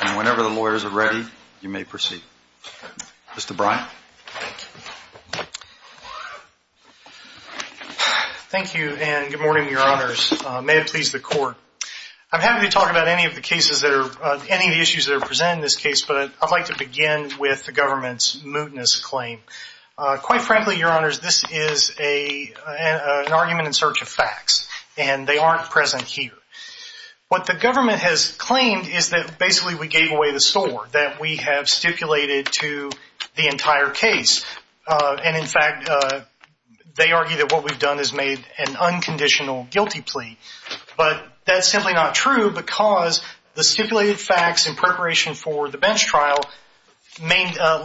and whenever the lawyers are ready, you may proceed. Mr. Bryan. Thank you, and good morning, Your Honors. May it please the Court. I'm happy to talk about any of the issues that are presented in this case, but I'd like to begin with the government's mootness claim. Quite frankly, Your Honors, this is an argument in search of facts, and they aren't present here. What the government has claimed is that basically we gave away the sword, that we have stipulated to the entire case. And in fact, they argue that what we've done is made an unconditional guilty plea. But that's simply not true because the stipulated facts in preparation for the bench trial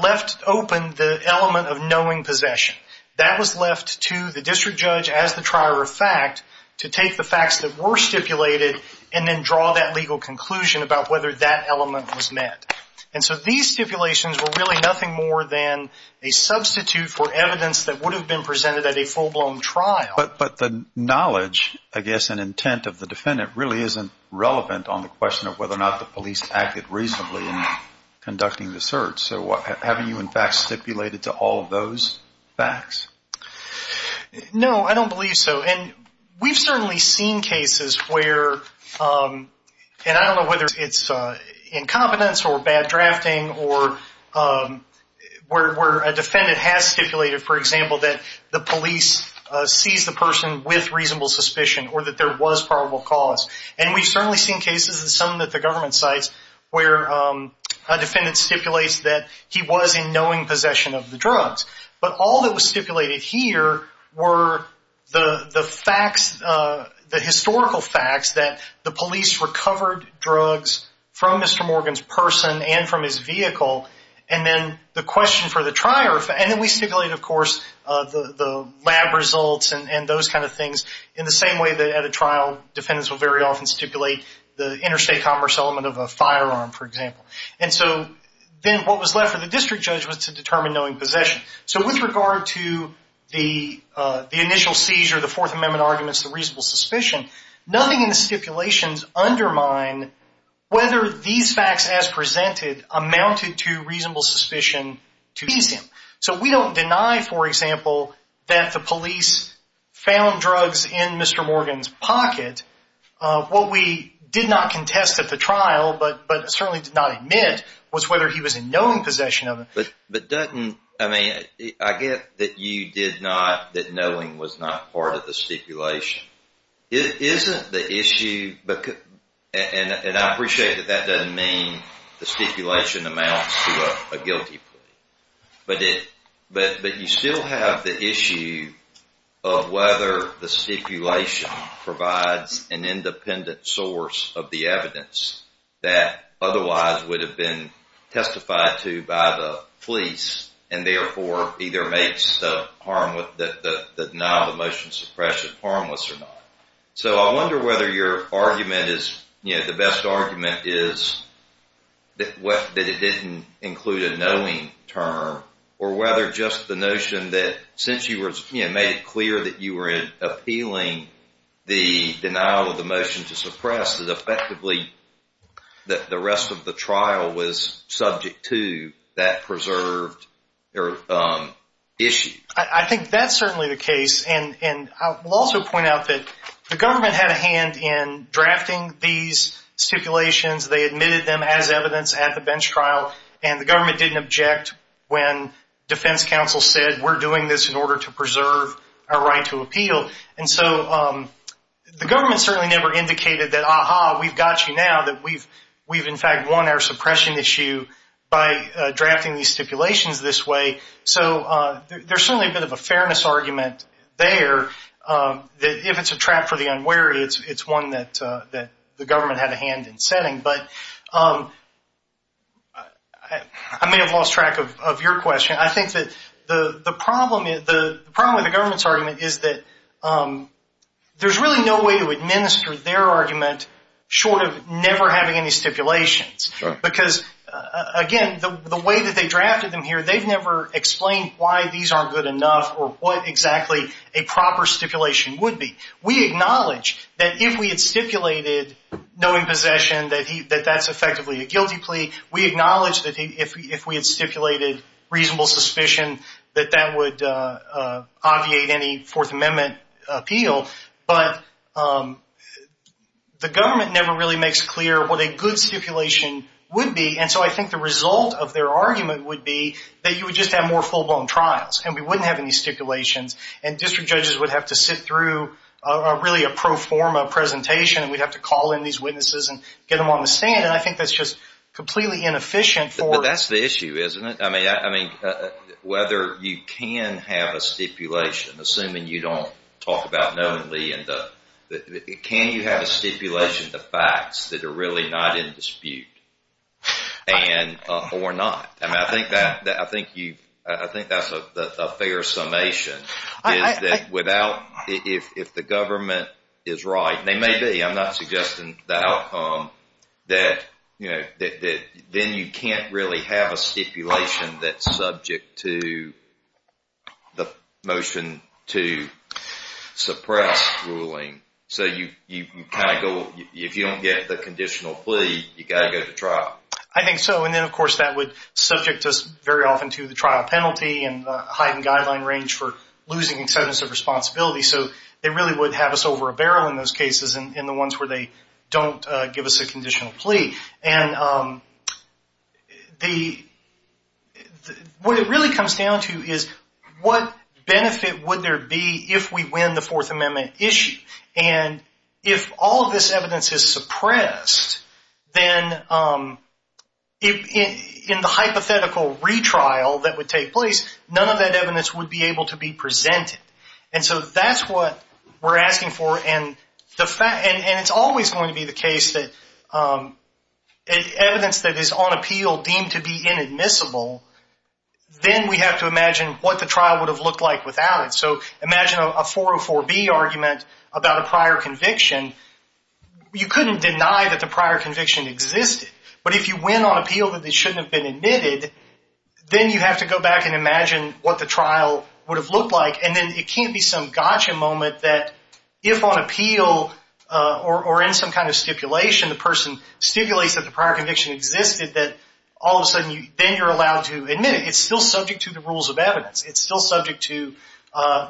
left open the element of knowing possession. That was left to the district judge as the trier of fact to take the facts that were stipulated and then draw that legal conclusion about whether that element was met. And so these stipulations were really nothing more than a substitute for evidence that would have been presented at a full-blown trial. But the knowledge, I guess, and intent of the defendant really isn't relevant on the question of whether or not the police acted reasonably in conducting the search. So haven't you, in fact, stipulated to all of those facts? No, I don't believe so. And we've certainly seen cases where, and I don't know whether it's incompetence or bad drafting or where a defendant has stipulated, for example, that the police seized the person with reasonable suspicion or that there was probable cause. And we've certainly seen cases in some of the government sites where a defendant stipulates that he was in knowing possession of the drugs. But all that was stipulated here were the facts, the historical facts, that the police recovered drugs from Mr. Morgan's person and from his vehicle. And then the question for the trier, and then we stipulated, of course, the lab results and those kind of things in the same way that at a trial defendants will very often stipulate the interstate commerce element of a firearm, for example. And so then what was left for the district judge was to determine knowing possession. So with regard to the initial seizure, the Fourth Amendment arguments, the reasonable suspicion, nothing in the stipulations undermine whether these facts as presented amounted to reasonable suspicion to seize him. So we don't deny, for example, that the police found drugs in Mr. Morgan's pocket. What we did not contest at the trial, but certainly did not admit, was whether he was in knowing possession of them. But doesn't, I mean, I get that you did not, that knowing was not part of the stipulation. Isn't the issue, and I appreciate that that doesn't mean the stipulation amounts to a guilty plea, but you still have the issue of whether the stipulation provides an independent source of the evidence that otherwise would have been testified to by the police and therefore either makes the denial of motion suppression harmless or not. So I wonder whether your argument is, you know, the best argument is that it didn't include the notion of knowing term or whether just the notion that since you made it clear that you were appealing the denial of the motion to suppress, that effectively the rest of the trial was subject to that preserved issue. I think that's certainly the case. And I will also point out that the government had a hand in drafting these stipulations. They admitted them as evidence at the bench trial, and the government didn't object when defense counsel said, we're doing this in order to preserve our right to appeal. And so the government certainly never indicated that, aha, we've got you now, that we've in fact won our suppression issue by drafting these stipulations this way. So there's certainly a bit of a fairness argument there that if it's a trap for the unwary, it's one that the government had a hand in setting. But I may have lost track of your question. I think that the problem with the government's argument is that there's really no way to administer their argument short of never having any stipulations because, again, the way that they drafted them here, they've never explained why these aren't good enough or what exactly a proper stipulation would be. We acknowledge that if we had stipulated knowing possession that that's effectively a guilty plea. We acknowledge that if we had stipulated reasonable suspicion that that would obviate any Fourth Amendment appeal. But the government never really makes clear what a good stipulation would be. And so I think the result of their argument would be that you would just have more full-blown trials and we wouldn't have any stipulations and district judges would have to sit through really a pro forma presentation and we'd have to call in these witnesses and get them on the stand. And I think that's just completely inefficient. But that's the issue, isn't it? I mean, whether you can have a stipulation, assuming you don't talk about knowingly, can you have a stipulation of facts that are really not in dispute or not? I think that's a fair summation. If the government is right, and they may be, I'm not suggesting that outcome, that then you can't really have a stipulation that's subject to the motion to suppress ruling. So if you don't get the conditional plea, you've got to go to trial. I think so. And then, of course, that would subject us very often to the trial penalty and the heightened guideline range for losing incentives of responsibility. So they really would have us over a barrel in those cases and the ones where they don't give us a conditional plea. And what it really comes down to is what benefit would there be if we win the Fourth Amendment issue? And if all of this evidence is suppressed, then in the hypothetical retrial that would take place, none of that evidence would be able to be presented. And so that's what we're asking for. And it's always going to be the case that evidence that is on appeal deemed to be inadmissible, then we have to imagine what the trial would have looked like without it. So imagine a 404B argument about a prior conviction. You couldn't deny that the prior conviction existed. But if you win on appeal that it shouldn't have been admitted, then you have to go back and imagine what the trial would have looked like. And then it can't be some gotcha moment that if on appeal or in some kind of stipulation the person stipulates that the prior conviction existed that all of a sudden then you're allowed to admit it. It's still subject to the rules of evidence. It's still subject to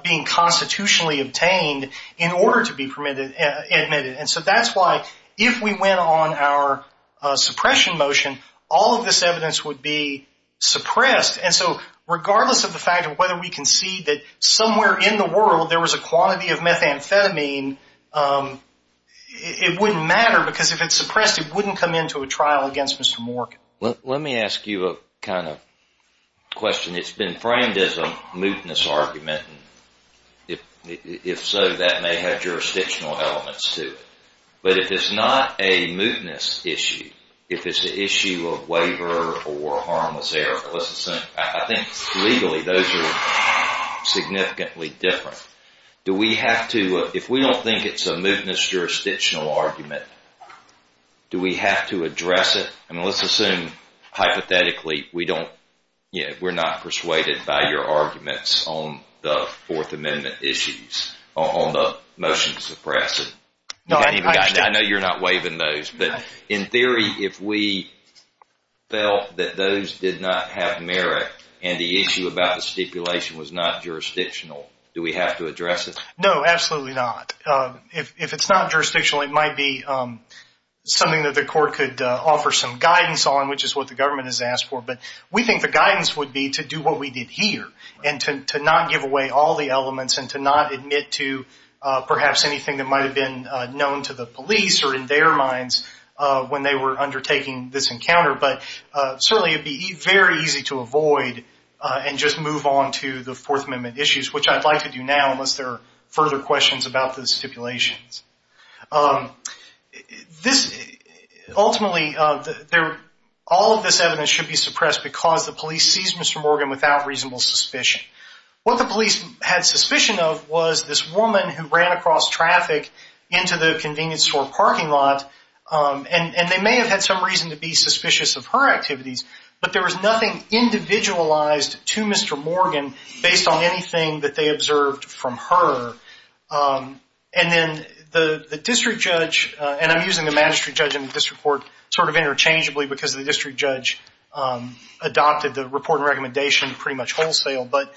being constitutionally obtained in order to be admitted. And so that's why if we win on our suppression motion, all of this evidence would be suppressed. And so regardless of the fact of whether we concede that somewhere in the world there was a quantity of methamphetamine, it wouldn't matter because if it's suppressed it wouldn't come into a trial against Mr. Mork. Let me ask you a kind of question. It's been framed as a mootness argument. If so, that may have jurisdictional elements to it. But if it's not a mootness issue, if it's an issue of waiver or harmless error, I think legally those are significantly different. If we don't think it's a mootness jurisdictional argument, do we have to address it? Let's assume hypothetically we're not persuaded by your arguments on the Fourth Amendment issues, on the motion to suppress it. I know you're not waiving those, but in theory if we felt that those did not have merit and the issue about the stipulation was not jurisdictional, do we have to address it? No, absolutely not. If it's not jurisdictional, it might be something that the court could offer some guidance on, which is what the government has asked for. But we think the guidance would be to do what we did here and to not give away all the elements and to not admit to perhaps anything that might have been known to the police or in their minds when they were undertaking this encounter. But certainly it would be very easy to avoid and just move on to the Fourth Amendment issues, which I'd like to do now unless there are further questions about the stipulations. Ultimately, all of this evidence should be suppressed because the police seized Mr. Morgan without reasonable suspicion. What the police had suspicion of was this woman who ran across traffic into the convenience store parking lot, and they may have had some reason to be suspicious of her activities, but there was nothing individualized to Mr. Morgan based on anything that they observed from her. And then the district judge, and I'm using the magistrate judge in this report sort of interchangeably because the district judge adopted the report and recommendation pretty much wholesale, but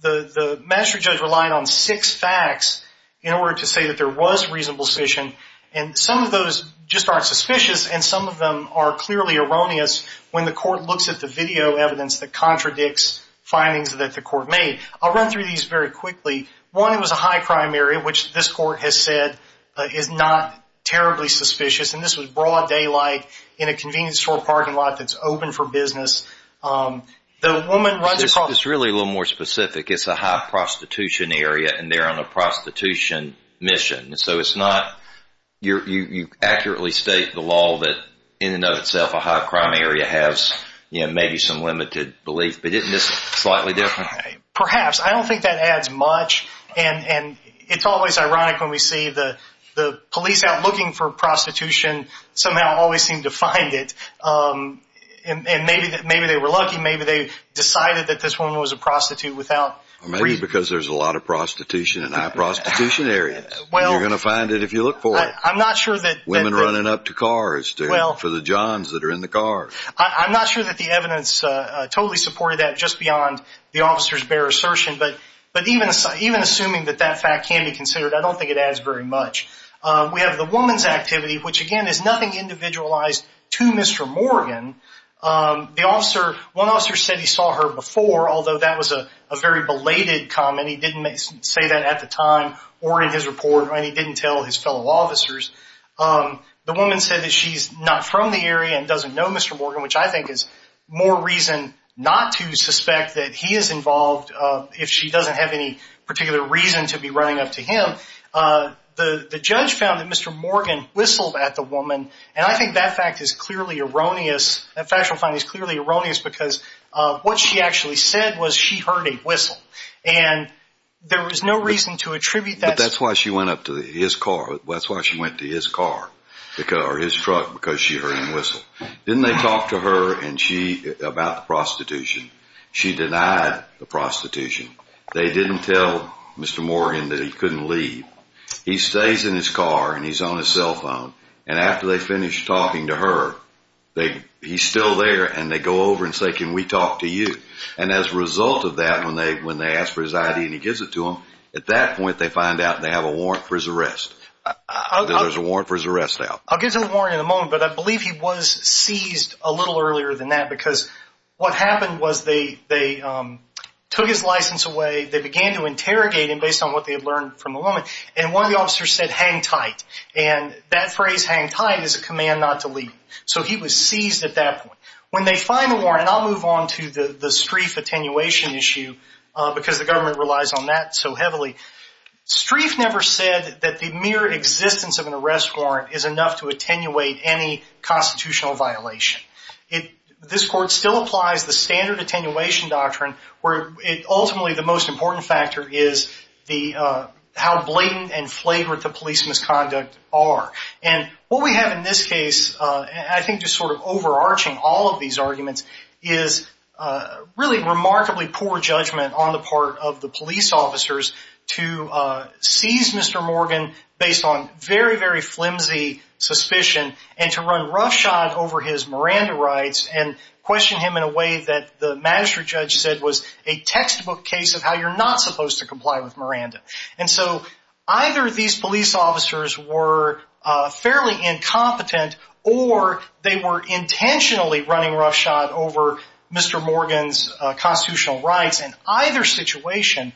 the magistrate judge relied on six facts in order to say that there was reasonable suspicion, and some of those just aren't suspicious, and some of them are clearly erroneous when the court looks at the video evidence that contradicts findings that the court made. I'll run through these very quickly. One, it was a high crime area, which this court has said is not terribly suspicious, and this was broad daylight in a convenience store parking lot that's open for business. The woman runs across – It's really a little more specific. It's a high prostitution area, and they're on a prostitution mission. So it's not – you accurately state the law that in and of itself a high crime area has maybe some limited belief, but isn't this slightly different? Perhaps. I don't think that adds much, and it's always ironic when we see the police out looking for prostitution somehow always seem to find it, and maybe they were lucky. Maybe they decided that this woman was a prostitute without reason. Maybe because there's a lot of prostitution in high prostitution areas. You're going to find it if you look for it. I'm not sure that – Women running up to cars for the johns that are in the cars. I'm not sure that the evidence totally supported that just beyond the officer's bare assertion, but even assuming that that fact can be considered, I don't think it adds very much. We have the woman's activity, which, again, is nothing individualized to Mr. Morgan. The officer – one officer said he saw her before, although that was a very belated comment. He didn't say that at the time or in his report, and he didn't tell his fellow officers. The woman said that she's not from the area and doesn't know Mr. Morgan, which I think is more reason not to suspect that he is involved if she doesn't have any particular reason to be running up to him. The judge found that Mr. Morgan whistled at the woman, and I think that fact is clearly erroneous. That factual finding is clearly erroneous because what she actually said was she heard a whistle, and there was no reason to attribute that. But that's why she went up to his car. That's why she went to his car or his truck because she heard him whistle. Didn't they talk to her and she about the prostitution? She denied the prostitution. They didn't tell Mr. Morgan that he couldn't leave. He stays in his car, and he's on his cell phone, and after they finish talking to her, he's still there, and they go over and say, can we talk to you? And as a result of that, when they ask for his ID and he gives it to them, at that point they find out they have a warrant for his arrest. There's a warrant for his arrest now. I'll get to the warrant in a moment, but I believe he was seized a little earlier than that because what happened was they took his license away. They began to interrogate him based on what they had learned from the woman, and one of the officers said, hang tight, and that phrase, hang tight, is a command not to leave. So he was seized at that point. When they find the warrant, and I'll move on to the Streiff attenuation issue because the government relies on that so heavily. Streiff never said that the mere existence of an arrest warrant is enough to attenuate any constitutional violation. This court still applies the standard attenuation doctrine where ultimately the most important factor is how blatant and flagrant the police misconduct are. And what we have in this case, I think just sort of overarching all of these arguments, is really remarkably poor judgment on the part of the police officers to seize Mr. Morgan based on very, very flimsy suspicion and to run roughshod over his Miranda rights and question him in a way that the magistrate judge said was a textbook case of how you're not supposed to comply with Miranda. And so either these police officers were fairly incompetent or they were intentionally running roughshod over Mr. Morgan's constitutional rights. And either situation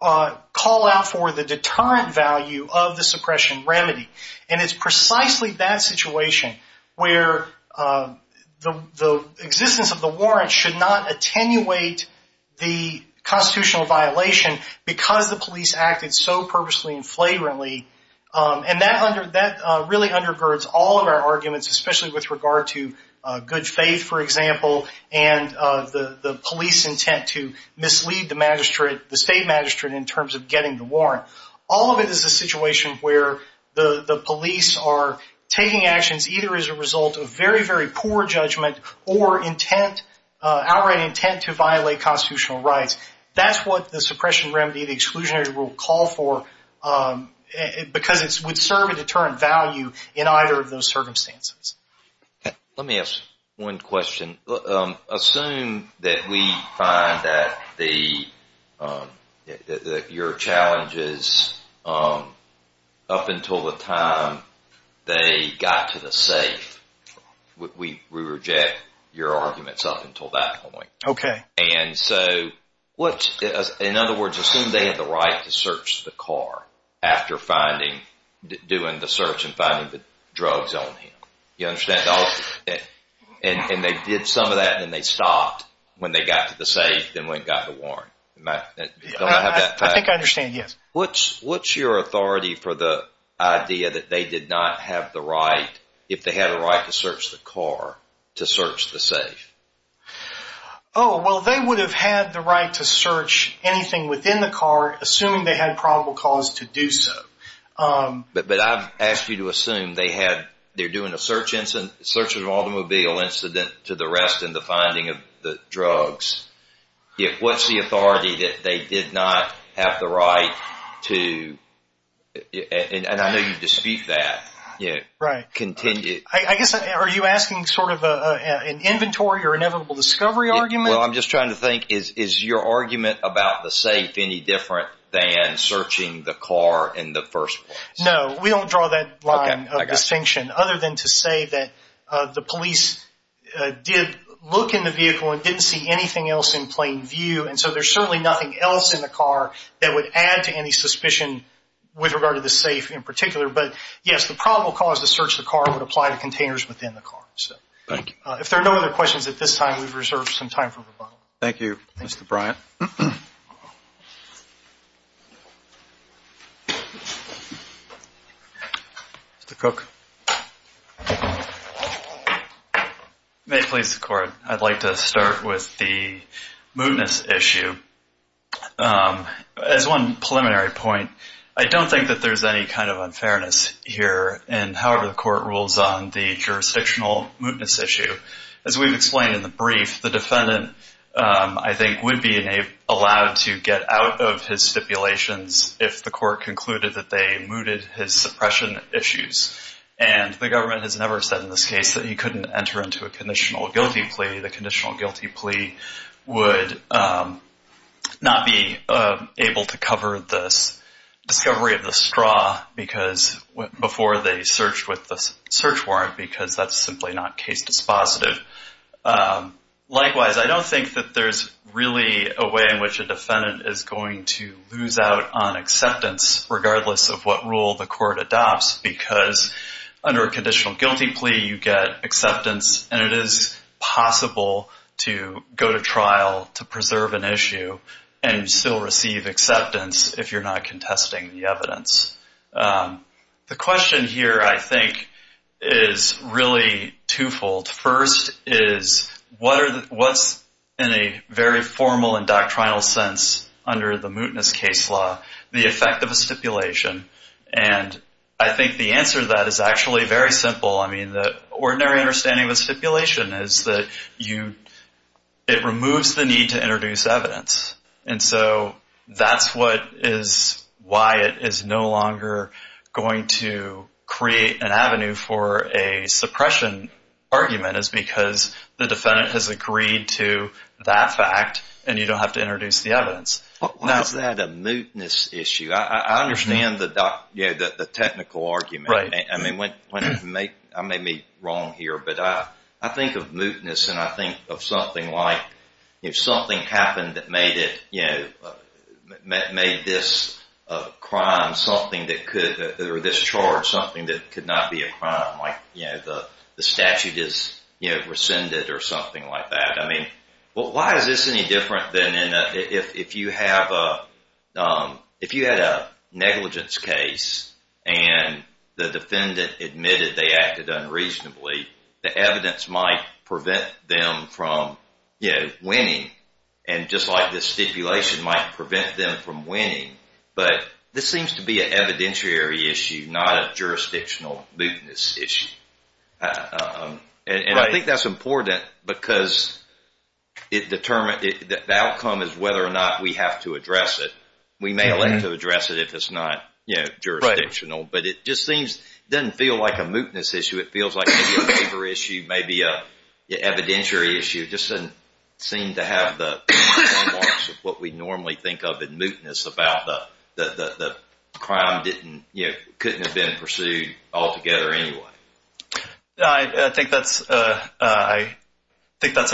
call out for the deterrent value of the suppression remedy. And it's precisely that situation where the existence of the warrant should not attenuate the constitutional violation because the police acted so purposely and flagrantly. And that really undergirds all of our arguments, especially with regard to good faith, for example, and the police intent to mislead the state magistrate in terms of getting the warrant. All of it is a situation where the police are taking actions either as a result of very, very poor judgment or outright intent to violate constitutional rights. That's what the suppression remedy, the exclusionary rule call for because it would serve a deterrent value in either of those circumstances. Let me ask one question. Assume that we find that your challenges up until the time they got to the safe, we reject your arguments up until that point. Okay. And so in other words, assume they had the right to search the car after doing the search and finding the drugs on him. You understand? And they did some of that and then they stopped when they got to the safe, then went and got the warrant. Do I have that correct? I think I understand, yes. What's your authority for the idea that they did not have the right, if they had a right to search the car, to search the safe? Oh, well, they would have had the right to search anything within the car assuming they had probable cause to do so. But I've asked you to assume they're doing a search of an automobile incident to the rest and the finding of the drugs. What's the authority that they did not have the right to? And I know you dispute that. Right. Continue. I guess are you asking sort of an inventory or inevitable discovery argument? Well, I'm just trying to think, is your argument about the safe any different than searching the car in the first place? No, we don't draw that line of distinction, other than to say that the police did look in the vehicle and didn't see anything else in plain view. And so there's certainly nothing else in the car that would add to any suspicion with regard to the safe in particular. But, yes, the probable cause to search the car would apply to containers within the car. Thank you. If there are no other questions at this time, we've reserved some time for rebuttal. Thank you, Mr. Bryant. Mr. Cook. May it please the Court, I'd like to start with the mootness issue. As one preliminary point, I don't think that there's any kind of unfairness here in however the Court rules on the jurisdictional mootness issue. As we've explained in the brief, the defendant, I think, would be allowed to get out of his stipulations if the Court concluded that they mooted his suppression issues. And the government has never said in this case that he couldn't enter into a conditional guilty plea. The conditional guilty plea would not be able to cover this discovery of the straw before they searched with the search warrant because that's simply not case dispositive. Likewise, I don't think that there's really a way in which a defendant is going to lose out on acceptance regardless of what rule the Court adopts because under a conditional guilty plea you get acceptance and it is possible to go to trial to preserve an issue and still receive acceptance if you're not contesting the evidence. The question here, I think, is really twofold. First is what's in a very formal and doctrinal sense under the mootness case law the effect of a stipulation? And I think the answer to that is actually very simple. I mean, the ordinary understanding of a stipulation is that it removes the need to introduce evidence. And so that's why it is no longer going to create an avenue for a suppression argument is because the defendant has agreed to that fact and you don't have to introduce the evidence. Why is that a mootness issue? I understand the technical argument. I may be wrong here, but I think of mootness and I think of something like if something happened that made this charge something that could not be a crime, like the statute is rescinded or something like that. Why is this any different than if you had a negligence case and the defendant admitted they acted unreasonably, the evidence might prevent them from winning and just like this stipulation might prevent them from winning. But this seems to be an evidentiary issue, not a jurisdictional mootness issue. And I think that's important because the outcome is whether or not we have to address it. We may elect to address it if it's not jurisdictional, but it just doesn't feel like a mootness issue. It feels like maybe a favor issue, maybe an evidentiary issue. It just doesn't seem to have the frameworks of what we normally think of in mootness about the crime couldn't have been pursued altogether anyway. I think that's a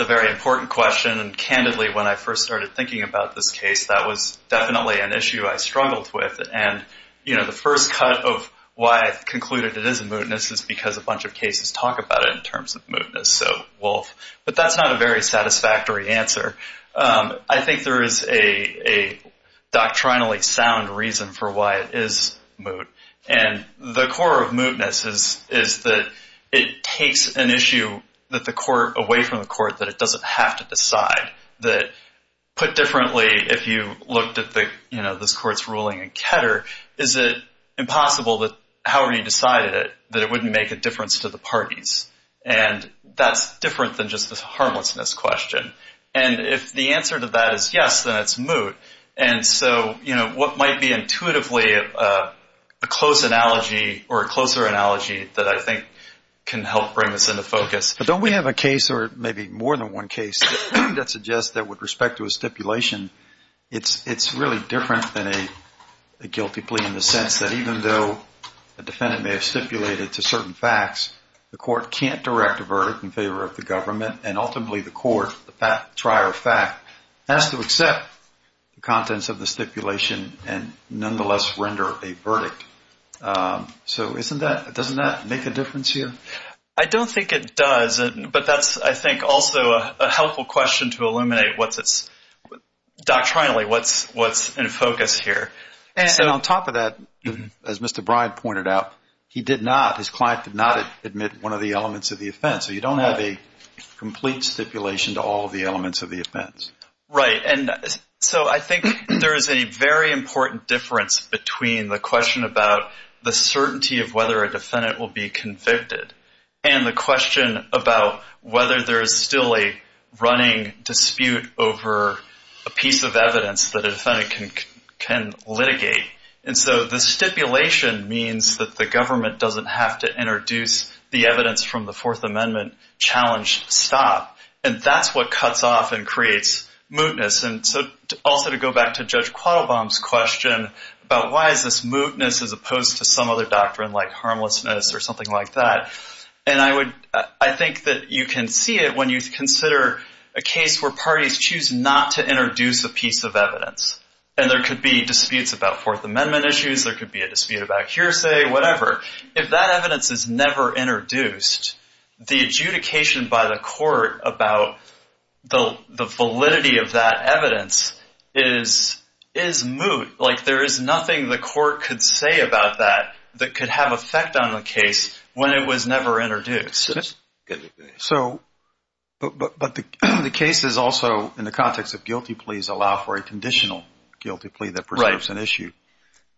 very important question and candidly when I first started thinking about this case, that was definitely an issue I struggled with. The first cut of why I concluded it is a mootness is because a bunch of cases talk about it in terms of mootness. But that's not a very satisfactory answer. I think there is a doctrinally sound reason for why it is moot. And the core of mootness is that it takes an issue away from the court that it doesn't have to decide. Put differently, if you looked at this court's ruling in Ketter, is it impossible that however you decided it, that it wouldn't make a difference to the parties? And that's different than just this harmlessness question. And if the answer to that is yes, then it's moot. And so what might be intuitively a close analogy or a closer analogy that I think can help bring this into focus? Don't we have a case or maybe more than one case that suggests that with respect to a stipulation, it's really different than a guilty plea in the sense that even though a defendant may have stipulated to certain facts, the court can't direct a verdict in favor of the government and ultimately the court, the prior fact, has to accept the contents of the stipulation and nonetheless render a verdict. So doesn't that make a difference here? I don't think it does, but that's, I think, also a helpful question to illuminate what's its doctrinally what's in focus here. And on top of that, as Mr. Bryant pointed out, he did not, his client did not admit one of the elements of the offense. So you don't have a complete stipulation to all of the elements of the offense. Right. And so I think there is a very important difference between the question about the certainty of whether a defendant will be convicted and the question about whether there is still a running dispute over a piece of evidence that a defendant can litigate. And so the stipulation means that the government doesn't have to introduce the evidence from the Fourth Amendment challenge stop, and that's what cuts off and creates mootness. And so also to go back to Judge Quattlebaum's question about why is this mootness as opposed to some other doctrine like harmlessness or something like that. And I think that you can see it when you consider a case where parties choose not to introduce a piece of evidence. And there could be disputes about Fourth Amendment issues. There could be a dispute about hearsay, whatever. If that evidence is never introduced, the adjudication by the court about the validity of that evidence is moot. Like there is nothing the court could say about that that could have effect on the case when it was never introduced. But the cases also, in the context of guilty pleas, allow for a conditional guilty plea that preserves an issue.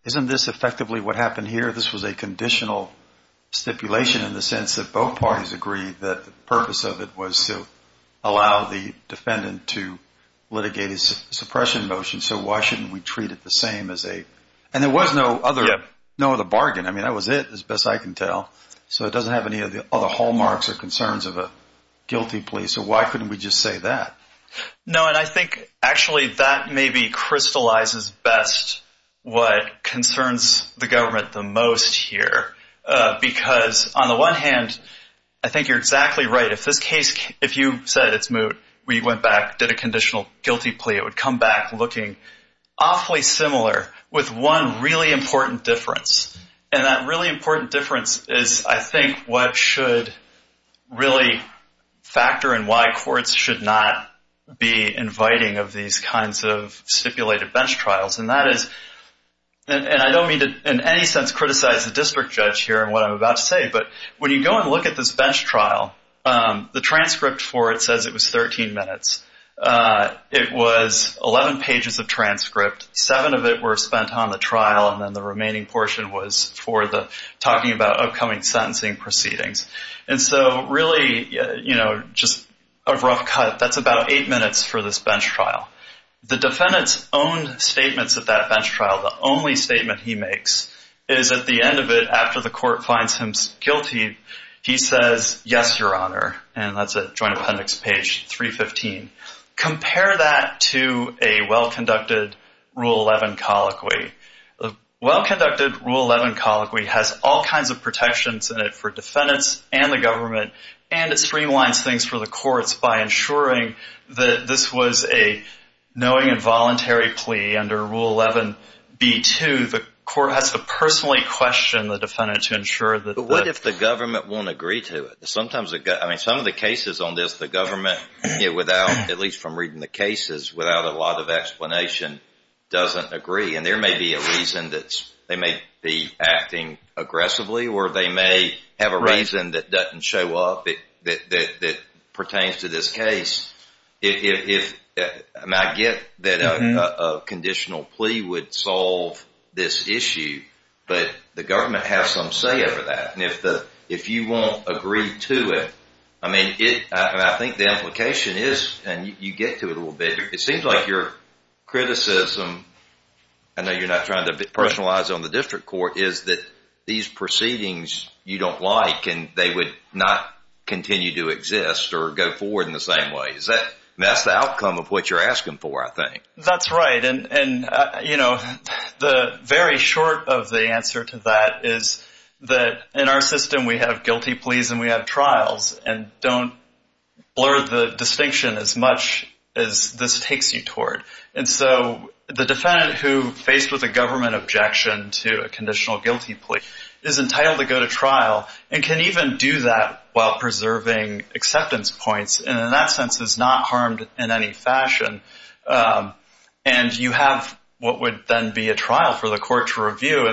Isn't this effectively what happened here? This was a conditional stipulation in the sense that both parties agreed that the purpose of it was to allow the defendant to litigate a suppression motion, so why shouldn't we treat it the same as a – and there was no other bargain. I mean, that was it as best I can tell. So it doesn't have any of the other hallmarks or concerns of a guilty plea, so why couldn't we just say that? No, and I think actually that maybe crystallizes best what concerns the government the most here because on the one hand, I think you're exactly right. If this case, if you said it's moot, we went back, did a conditional guilty plea, it would come back looking awfully similar with one really important difference, and that really important difference is I think what should really factor in why courts should not be inviting of these kinds of stipulated bench trials, and that is – and I don't mean to in any sense criticize the district judge here and what I'm about to say, but when you go and look at this bench trial, the transcript for it says it was 13 minutes. It was 11 pages of transcript. Seven of it were spent on the trial, and then the remaining portion was for the – talking about upcoming sentencing proceedings. And so really just a rough cut, that's about eight minutes for this bench trial. The defendant's own statements at that bench trial, the only statement he makes is at the end of it after the court finds him guilty, he says, yes, your honor, and that's at joint appendix page 315. Compare that to a well-conducted Rule 11 colloquy. A well-conducted Rule 11 colloquy has all kinds of protections in it for defendants and the government, and it streamlines things for the courts by ensuring that this was a knowing and voluntary plea under Rule 11b-2. The court has to personally question the defendant to ensure that the – But what if the government won't agree to it? Sometimes – I mean some of the cases on this, the government, without at least from reading the cases, without a lot of explanation, doesn't agree, and there may be a reason that they may be acting aggressively or they may have a reason that doesn't show up that pertains to this case. And I get that a conditional plea would solve this issue, but the government has some say over that. And if you won't agree to it, I mean, I think the implication is, and you get to it a little bit, it seems like your criticism, I know you're not trying to personalize it on the district court, is that these proceedings you don't like and they would not continue to exist or go forward in the same way. That's the outcome of what you're asking for, I think. That's right. And, you know, the very short of the answer to that is that in our system we have guilty pleas and we have trials, and don't blur the distinction as much as this takes you toward. And so the defendant who faced with a government objection to a conditional guilty plea is entitled to go to trial and can even do that while preserving acceptance points, and in that sense is not harmed in any fashion. And you have what would then be a trial for the court to review.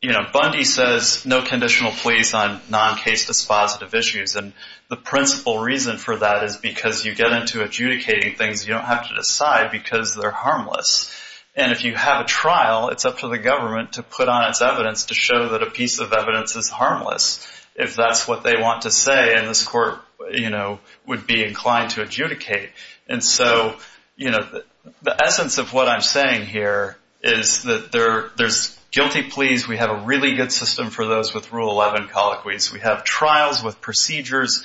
You know, Bundy says no conditional pleas on non-case dispositive issues, and the principal reason for that is because you get into adjudicating things you don't have to decide because they're harmless. And if you have a trial, it's up to the government to put on its evidence to show that a piece of evidence is harmless if that's what they want to say and this court, you know, would be inclined to adjudicate. And so, you know, the essence of what I'm saying here is that there's guilty pleas. We have a really good system for those with Rule 11 colloquies. We have trials with procedures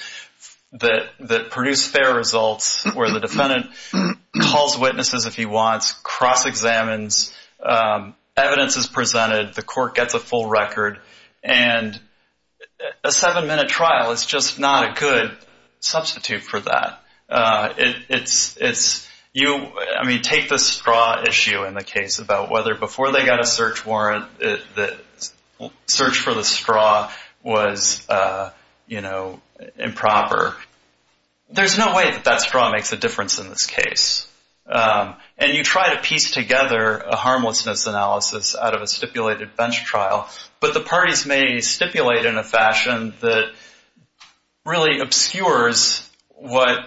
that produce fair results where the defendant calls witnesses if he wants, cross-examines, evidence is presented, the court gets a full record, and a seven-minute trial is just not a good substitute for that. It's you, I mean, take the straw issue in the case about whether before they got a search warrant the search for the straw was, you know, improper. There's no way that that straw makes a difference in this case. And you try to piece together a harmlessness analysis out of a stipulated bench trial, but the parties may stipulate in a fashion that really obscures what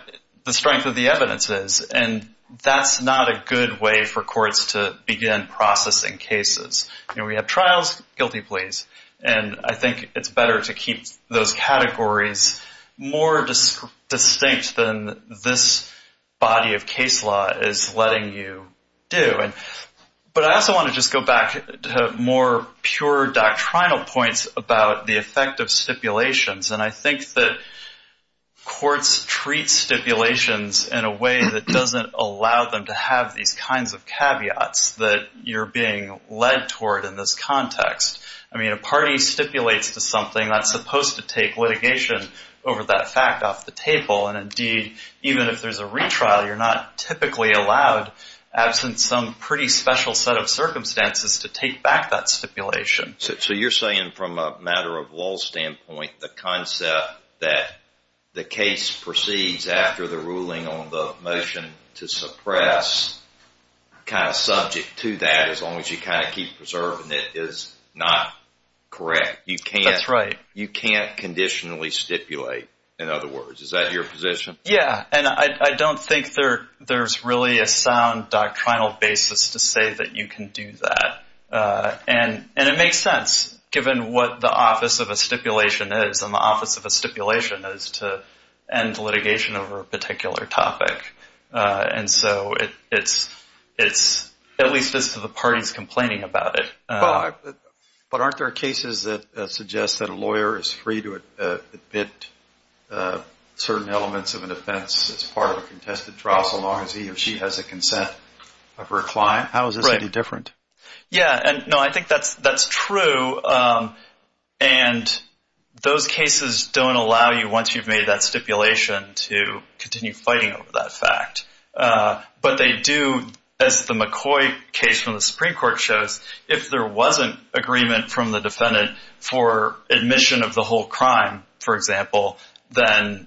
the strength of the evidence is, and that's not a good way for courts to begin processing cases. You know, we have trials, guilty pleas, and I think it's better to keep those categories more distinct than this body of case law is letting you do. But I also want to just go back to more pure doctrinal points about the effect of stipulations, and I think that courts treat stipulations in a way that doesn't allow them to have these kinds of caveats that you're being led toward in this context. I mean, a party stipulates to something that's supposed to take litigation over that fact off the table, and indeed, even if there's a retrial, you're not typically allowed, absent some pretty special set of circumstances, to take back that stipulation. So you're saying from a matter-of-law standpoint, the concept that the case proceeds after the ruling on the motion to suppress, kind of subject to that as long as you kind of keep preserving it, is not correct. That's right. You can't conditionally stipulate, in other words. Is that your position? Yeah, and I don't think there's really a sound doctrinal basis to say that you can do that, and it makes sense, given what the office of a stipulation is, and the office of a stipulation is to end litigation over a particular topic, and so it's at least as to the parties complaining about it. But aren't there cases that suggest that a lawyer is free to admit certain elements of an offense as part of a contested trial so long as he or she has a consent of her client? How is this any different? Yeah, no, I think that's true, and those cases don't allow you, once you've made that stipulation, to continue fighting over that fact. But they do, as the McCoy case from the Supreme Court shows, if there wasn't agreement from the defendant for admission of the whole crime, for example, then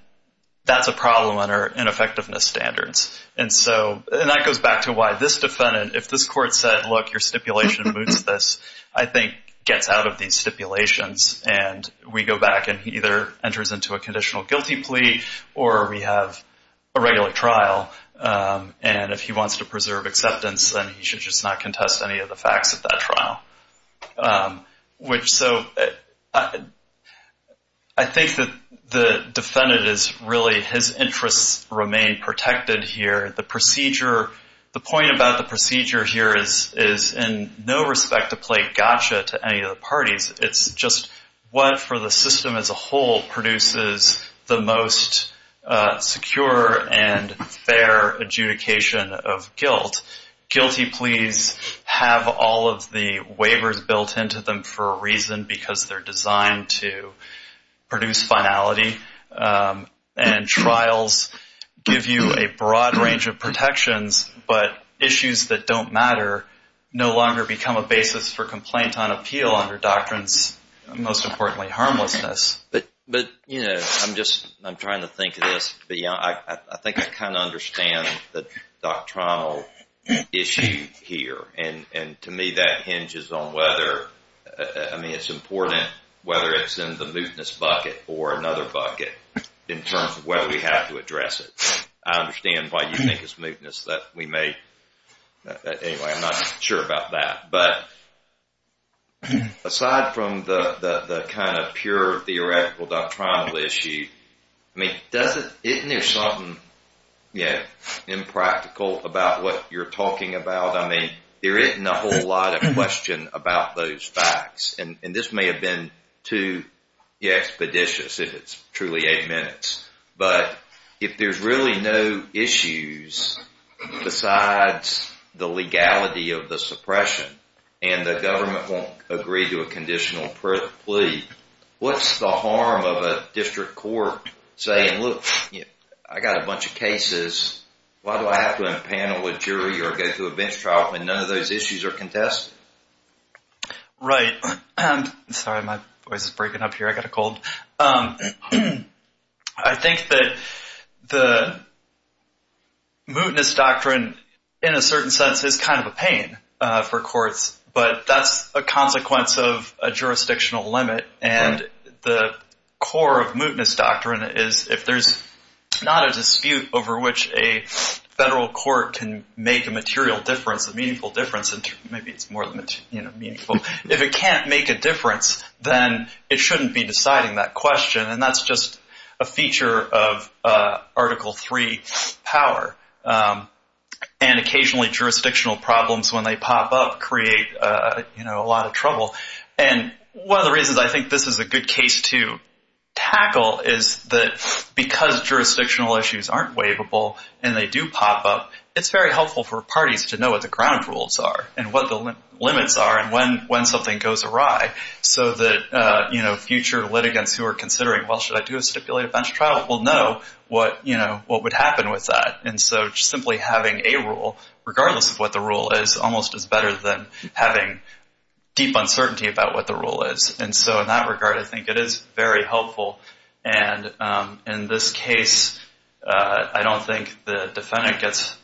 that's a problem under ineffectiveness standards. And that goes back to why this defendant, if this court said, look, your stipulation moots this, I think gets out of these stipulations, and we go back and he either enters into a conditional guilty plea or we have a regular trial, and if he wants to preserve acceptance, then he should just not contest any of the facts at that trial. So I think that the defendant is really, his interests remain protected here. The point about the procedure here is in no respect to play gotcha to any of the parties. It's just what for the system as a whole produces the most secure and fair adjudication of guilt. Guilty pleas have all of the waivers built into them for a reason, because they're designed to produce finality. And trials give you a broad range of protections, but issues that don't matter no longer become a basis for complaint on appeal under doctrines, most importantly, harmlessness. But, you know, I'm just, I'm trying to think of this, but I think I kind of understand the doctrinal issue here, and to me that hinges on whether, I mean, it's important whether it's in the mootness bucket or another bucket in terms of whether we have to address it. I understand why you think it's mootness that we may, anyway, I'm not sure about that. But aside from the kind of pure theoretical doctrinal issue, I mean, doesn't, isn't there something impractical about what you're talking about? I mean, there isn't a whole lot of question about those facts, and this may have been too expeditious if it's truly eight minutes. But if there's really no issues besides the legality of the suppression, and the government won't agree to a conditional plea, what's the harm of a district court saying, look, I got a bunch of cases, why do I have to impanel a jury or go through a bench trial when none of those issues are contested? Right. Sorry, my voice is breaking up here. I got a cold. I think that the mootness doctrine, in a certain sense, is kind of a pain for courts, but that's a consequence of a jurisdictional limit, and the core of mootness doctrine is if there's not a dispute over which a federal court can make a material difference, a meaningful difference, if it can't make a difference, then it shouldn't be deciding that question, and that's just a feature of Article III power. And occasionally jurisdictional problems, when they pop up, create a lot of trouble. And one of the reasons I think this is a good case to tackle is that because jurisdictional issues aren't waivable and they do pop up, it's very helpful for parties to know what the ground rules are and what the limits are and when something goes awry, so that future litigants who are considering, well, should I do a stipulated bench trial, will know what would happen with that. And so just simply having a rule, regardless of what the rule is, almost is better than having deep uncertainty about what the rule is. And so in that regard, I think it is very helpful. And in this case, I don't think the defendant gets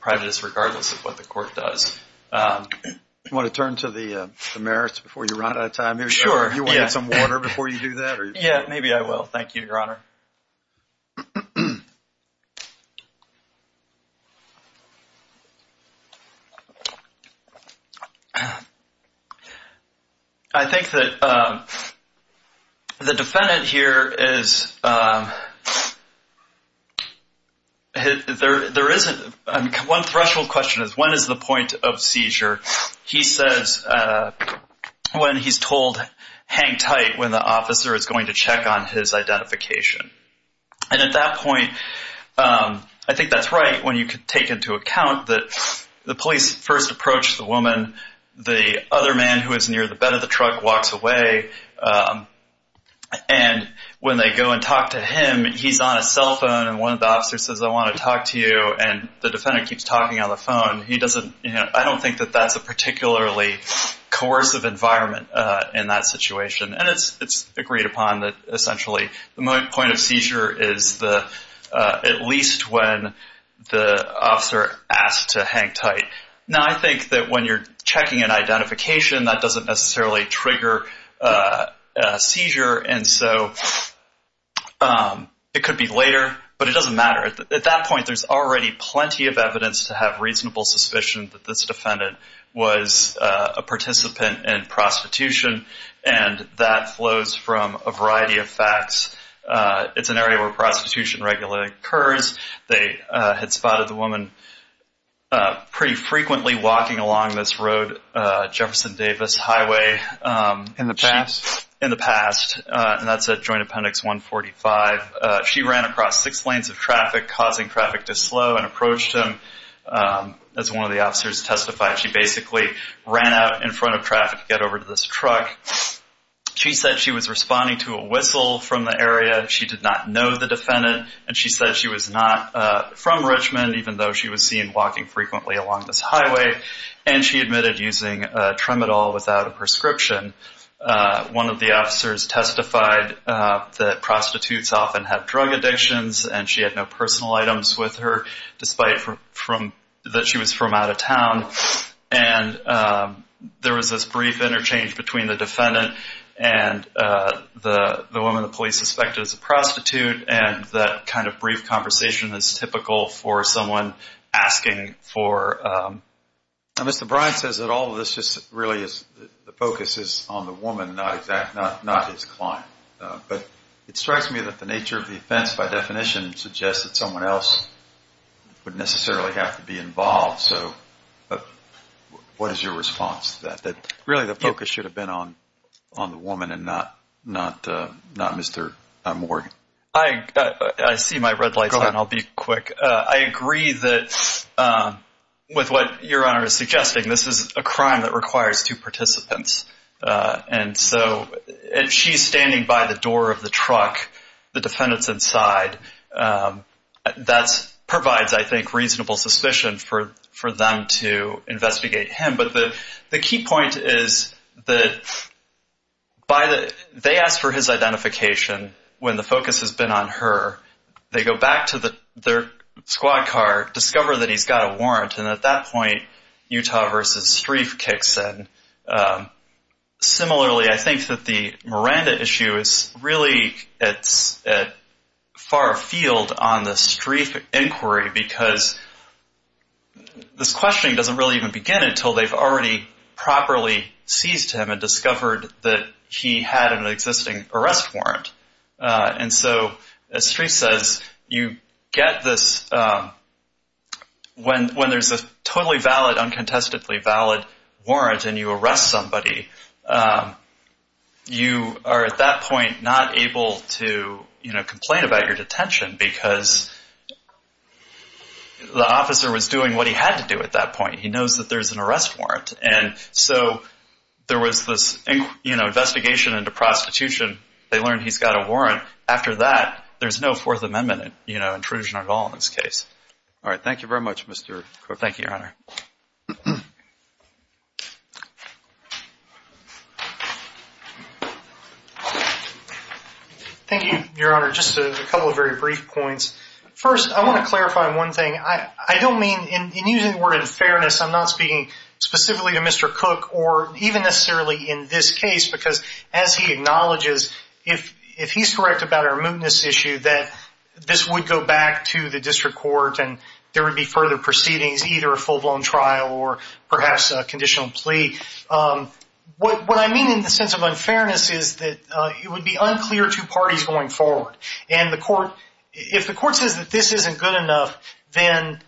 privates, regardless of what the court does. Do you want to turn to the merits before you run out of time here? Sure. Do you want to get some water before you do that? Yeah, maybe I will. Thank you, Your Honor. I think that the defendant here is, there isn't, one threshold question is, when is the point of seizure? He says when he's told hang tight, when the officer is going to check on his identification. And at that point, I think that's right when you take into account that the police first approach the woman, the other man who is near the bed of the truck walks away, and when they go and talk to him, he's on his cell phone, and one of the officers says, I want to talk to you, and the defendant keeps talking on the phone. I don't think that that's a particularly coercive environment in that situation. And it's agreed upon that, essentially, the point of seizure is at least when the officer asks to hang tight. Now, I think that when you're checking an identification, that doesn't necessarily trigger a seizure, and so it could be later, but it doesn't matter. At that point, there's already plenty of evidence to have reasonable suspicion that this defendant was a participant in prostitution, and that flows from a variety of facts. It's an area where prostitution regularly occurs. They had spotted the woman pretty frequently walking along this road, Jefferson Davis Highway. In the past? In the past, and that's at Joint Appendix 145. She ran across six lanes of traffic, causing traffic to slow, and approached him. As one of the officers testified, she basically ran out in front of traffic to get over to this truck. She said she was responding to a whistle from the area. She did not know the defendant, and she said she was not from Richmond, even though she was seen walking frequently along this highway, and she admitted using Tremadol without a prescription. One of the officers testified that prostitutes often have drug addictions, and she had no personal items with her, despite that she was from out of town. There was this brief interchange between the defendant and the woman the police suspected as a prostitute, and that kind of brief conversation is typical for someone asking for... Mr. Bryant says that all of this really is the focus is on the woman, not his client. But it strikes me that the nature of the offense, by definition, suggests that someone else would necessarily have to be involved. So what is your response to that, that really the focus should have been on the woman and not Mr. Morgan? I see my red lights on. I'll be quick. I agree that with what Your Honor is suggesting, this is a crime that requires two participants. And so if she's standing by the door of the truck, the defendant's inside, that provides, I think, reasonable suspicion for them to investigate him. But the key point is that they ask for his identification when the focus has been on her. They go back to their squad car, discover that he's got a warrant, and at that point, Utah v. Strieff kicks in. Similarly, I think that the Miranda issue is really at far field on the Strieff inquiry because this questioning doesn't really even begin until they've already properly seized him and discovered that he had an existing arrest warrant. And so, as Strieff says, when there's a totally valid, uncontestedly valid warrant and you arrest somebody, you are at that point not able to complain about your detention because the officer was doing what he had to do at that point. He knows that there's an arrest warrant. And so there was this investigation into prostitution. They learned he's got a warrant. After that, there's no Fourth Amendment intrusion at all in this case. All right. Thank you very much, Mr. Cook. Thank you, Your Honor. Thank you, Your Honor. Just a couple of very brief points. First, I want to clarify one thing. I don't mean in using the word unfairness. I'm not speaking specifically to Mr. Cook or even necessarily in this case because as he acknowledges, if he's correct about our mootness issue, that this would go back to the district court and there would be further proceedings, either a full-blown trial or perhaps a conditional plea. What I mean in the sense of unfairness is that it would be unclear to parties going forward. And if the court says that this isn't good enough, then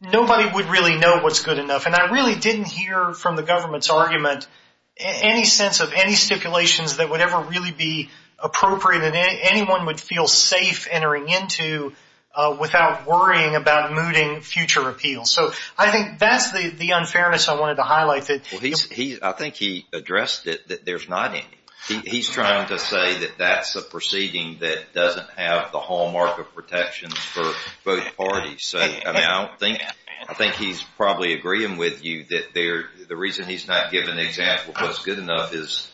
nobody would really know what's good enough. And I really didn't hear from the government's argument any sense of any stipulations that would ever really be appropriate and anyone would feel safe entering into without worrying about mooting future appeals. So I think that's the unfairness I wanted to highlight. I think he addressed it that there's not any. He's trying to say that that's a proceeding that doesn't have the hallmark of protections for both parties. I think he's probably agreeing with you that the reason he's not giving an example of what's good enough is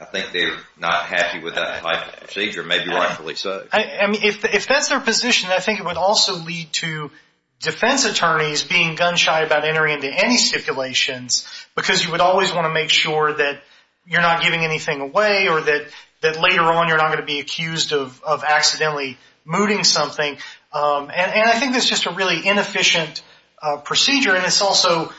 I think they're not happy with that type of procedure, maybe rightfully so. If that's their position, I think it would also lead to defense attorneys being gun-shy about entering into any stipulations because you would always want to make sure that you're not giving anything away or that later on you're not going to be accused of accidentally mooting something. And I think that's just a really inefficient procedure. And it's also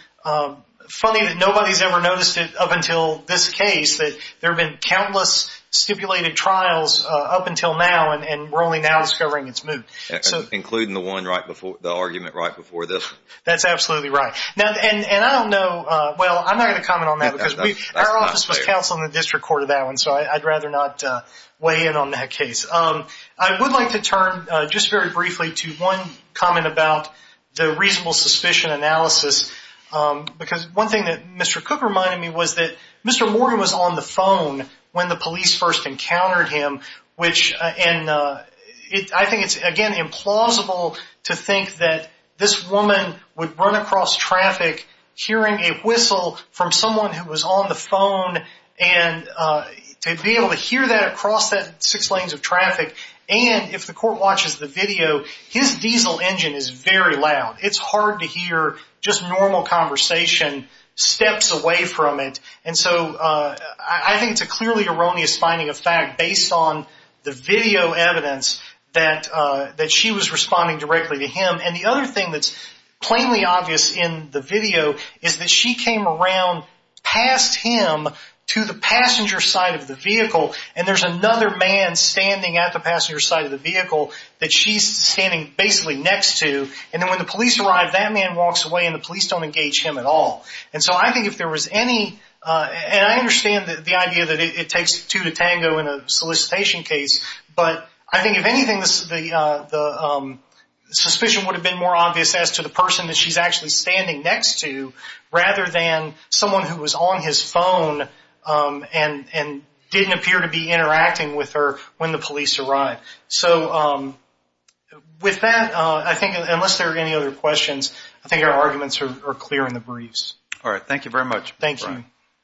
funny that nobody's ever noticed it up until this case, that there have been countless stipulated trials up until now and we're only now discovering it's moot. Including the one right before, the argument right before this one. That's absolutely right. And I don't know, well, I'm not going to comment on that because our office was counseling the district court on that one, so I'd rather not weigh in on that case. I would like to turn just very briefly to one comment about the reasonable suspicion analysis because one thing that Mr. Cook reminded me was that Mr. Morgan was on the phone when the police first encountered him, which I think it's, again, implausible to think that this woman would run across traffic hearing a whistle from someone who was on the phone and to be able to hear that across that six lanes of traffic. And if the court watches the video, his diesel engine is very loud. It's hard to hear just normal conversation steps away from it. And so I think it's a clearly erroneous finding of fact based on the video evidence that she was responding directly to him. And the other thing that's plainly obvious in the video is that she came around, passed him to the passenger side of the vehicle, and there's another man standing at the passenger side of the vehicle that she's standing basically next to. And then when the police arrive, that man walks away and the police don't engage him at all. And so I think if there was any, and I understand the idea that it takes two to tango in a solicitation case, but I think if anything the suspicion would have been more obvious as to the person that she's actually standing next to rather than someone who was on his phone and didn't appear to be interacting with her when the police arrived. So with that, I think unless there are any other questions, I think our arguments are clear in the briefs. All right. Thank you very much. Thank you.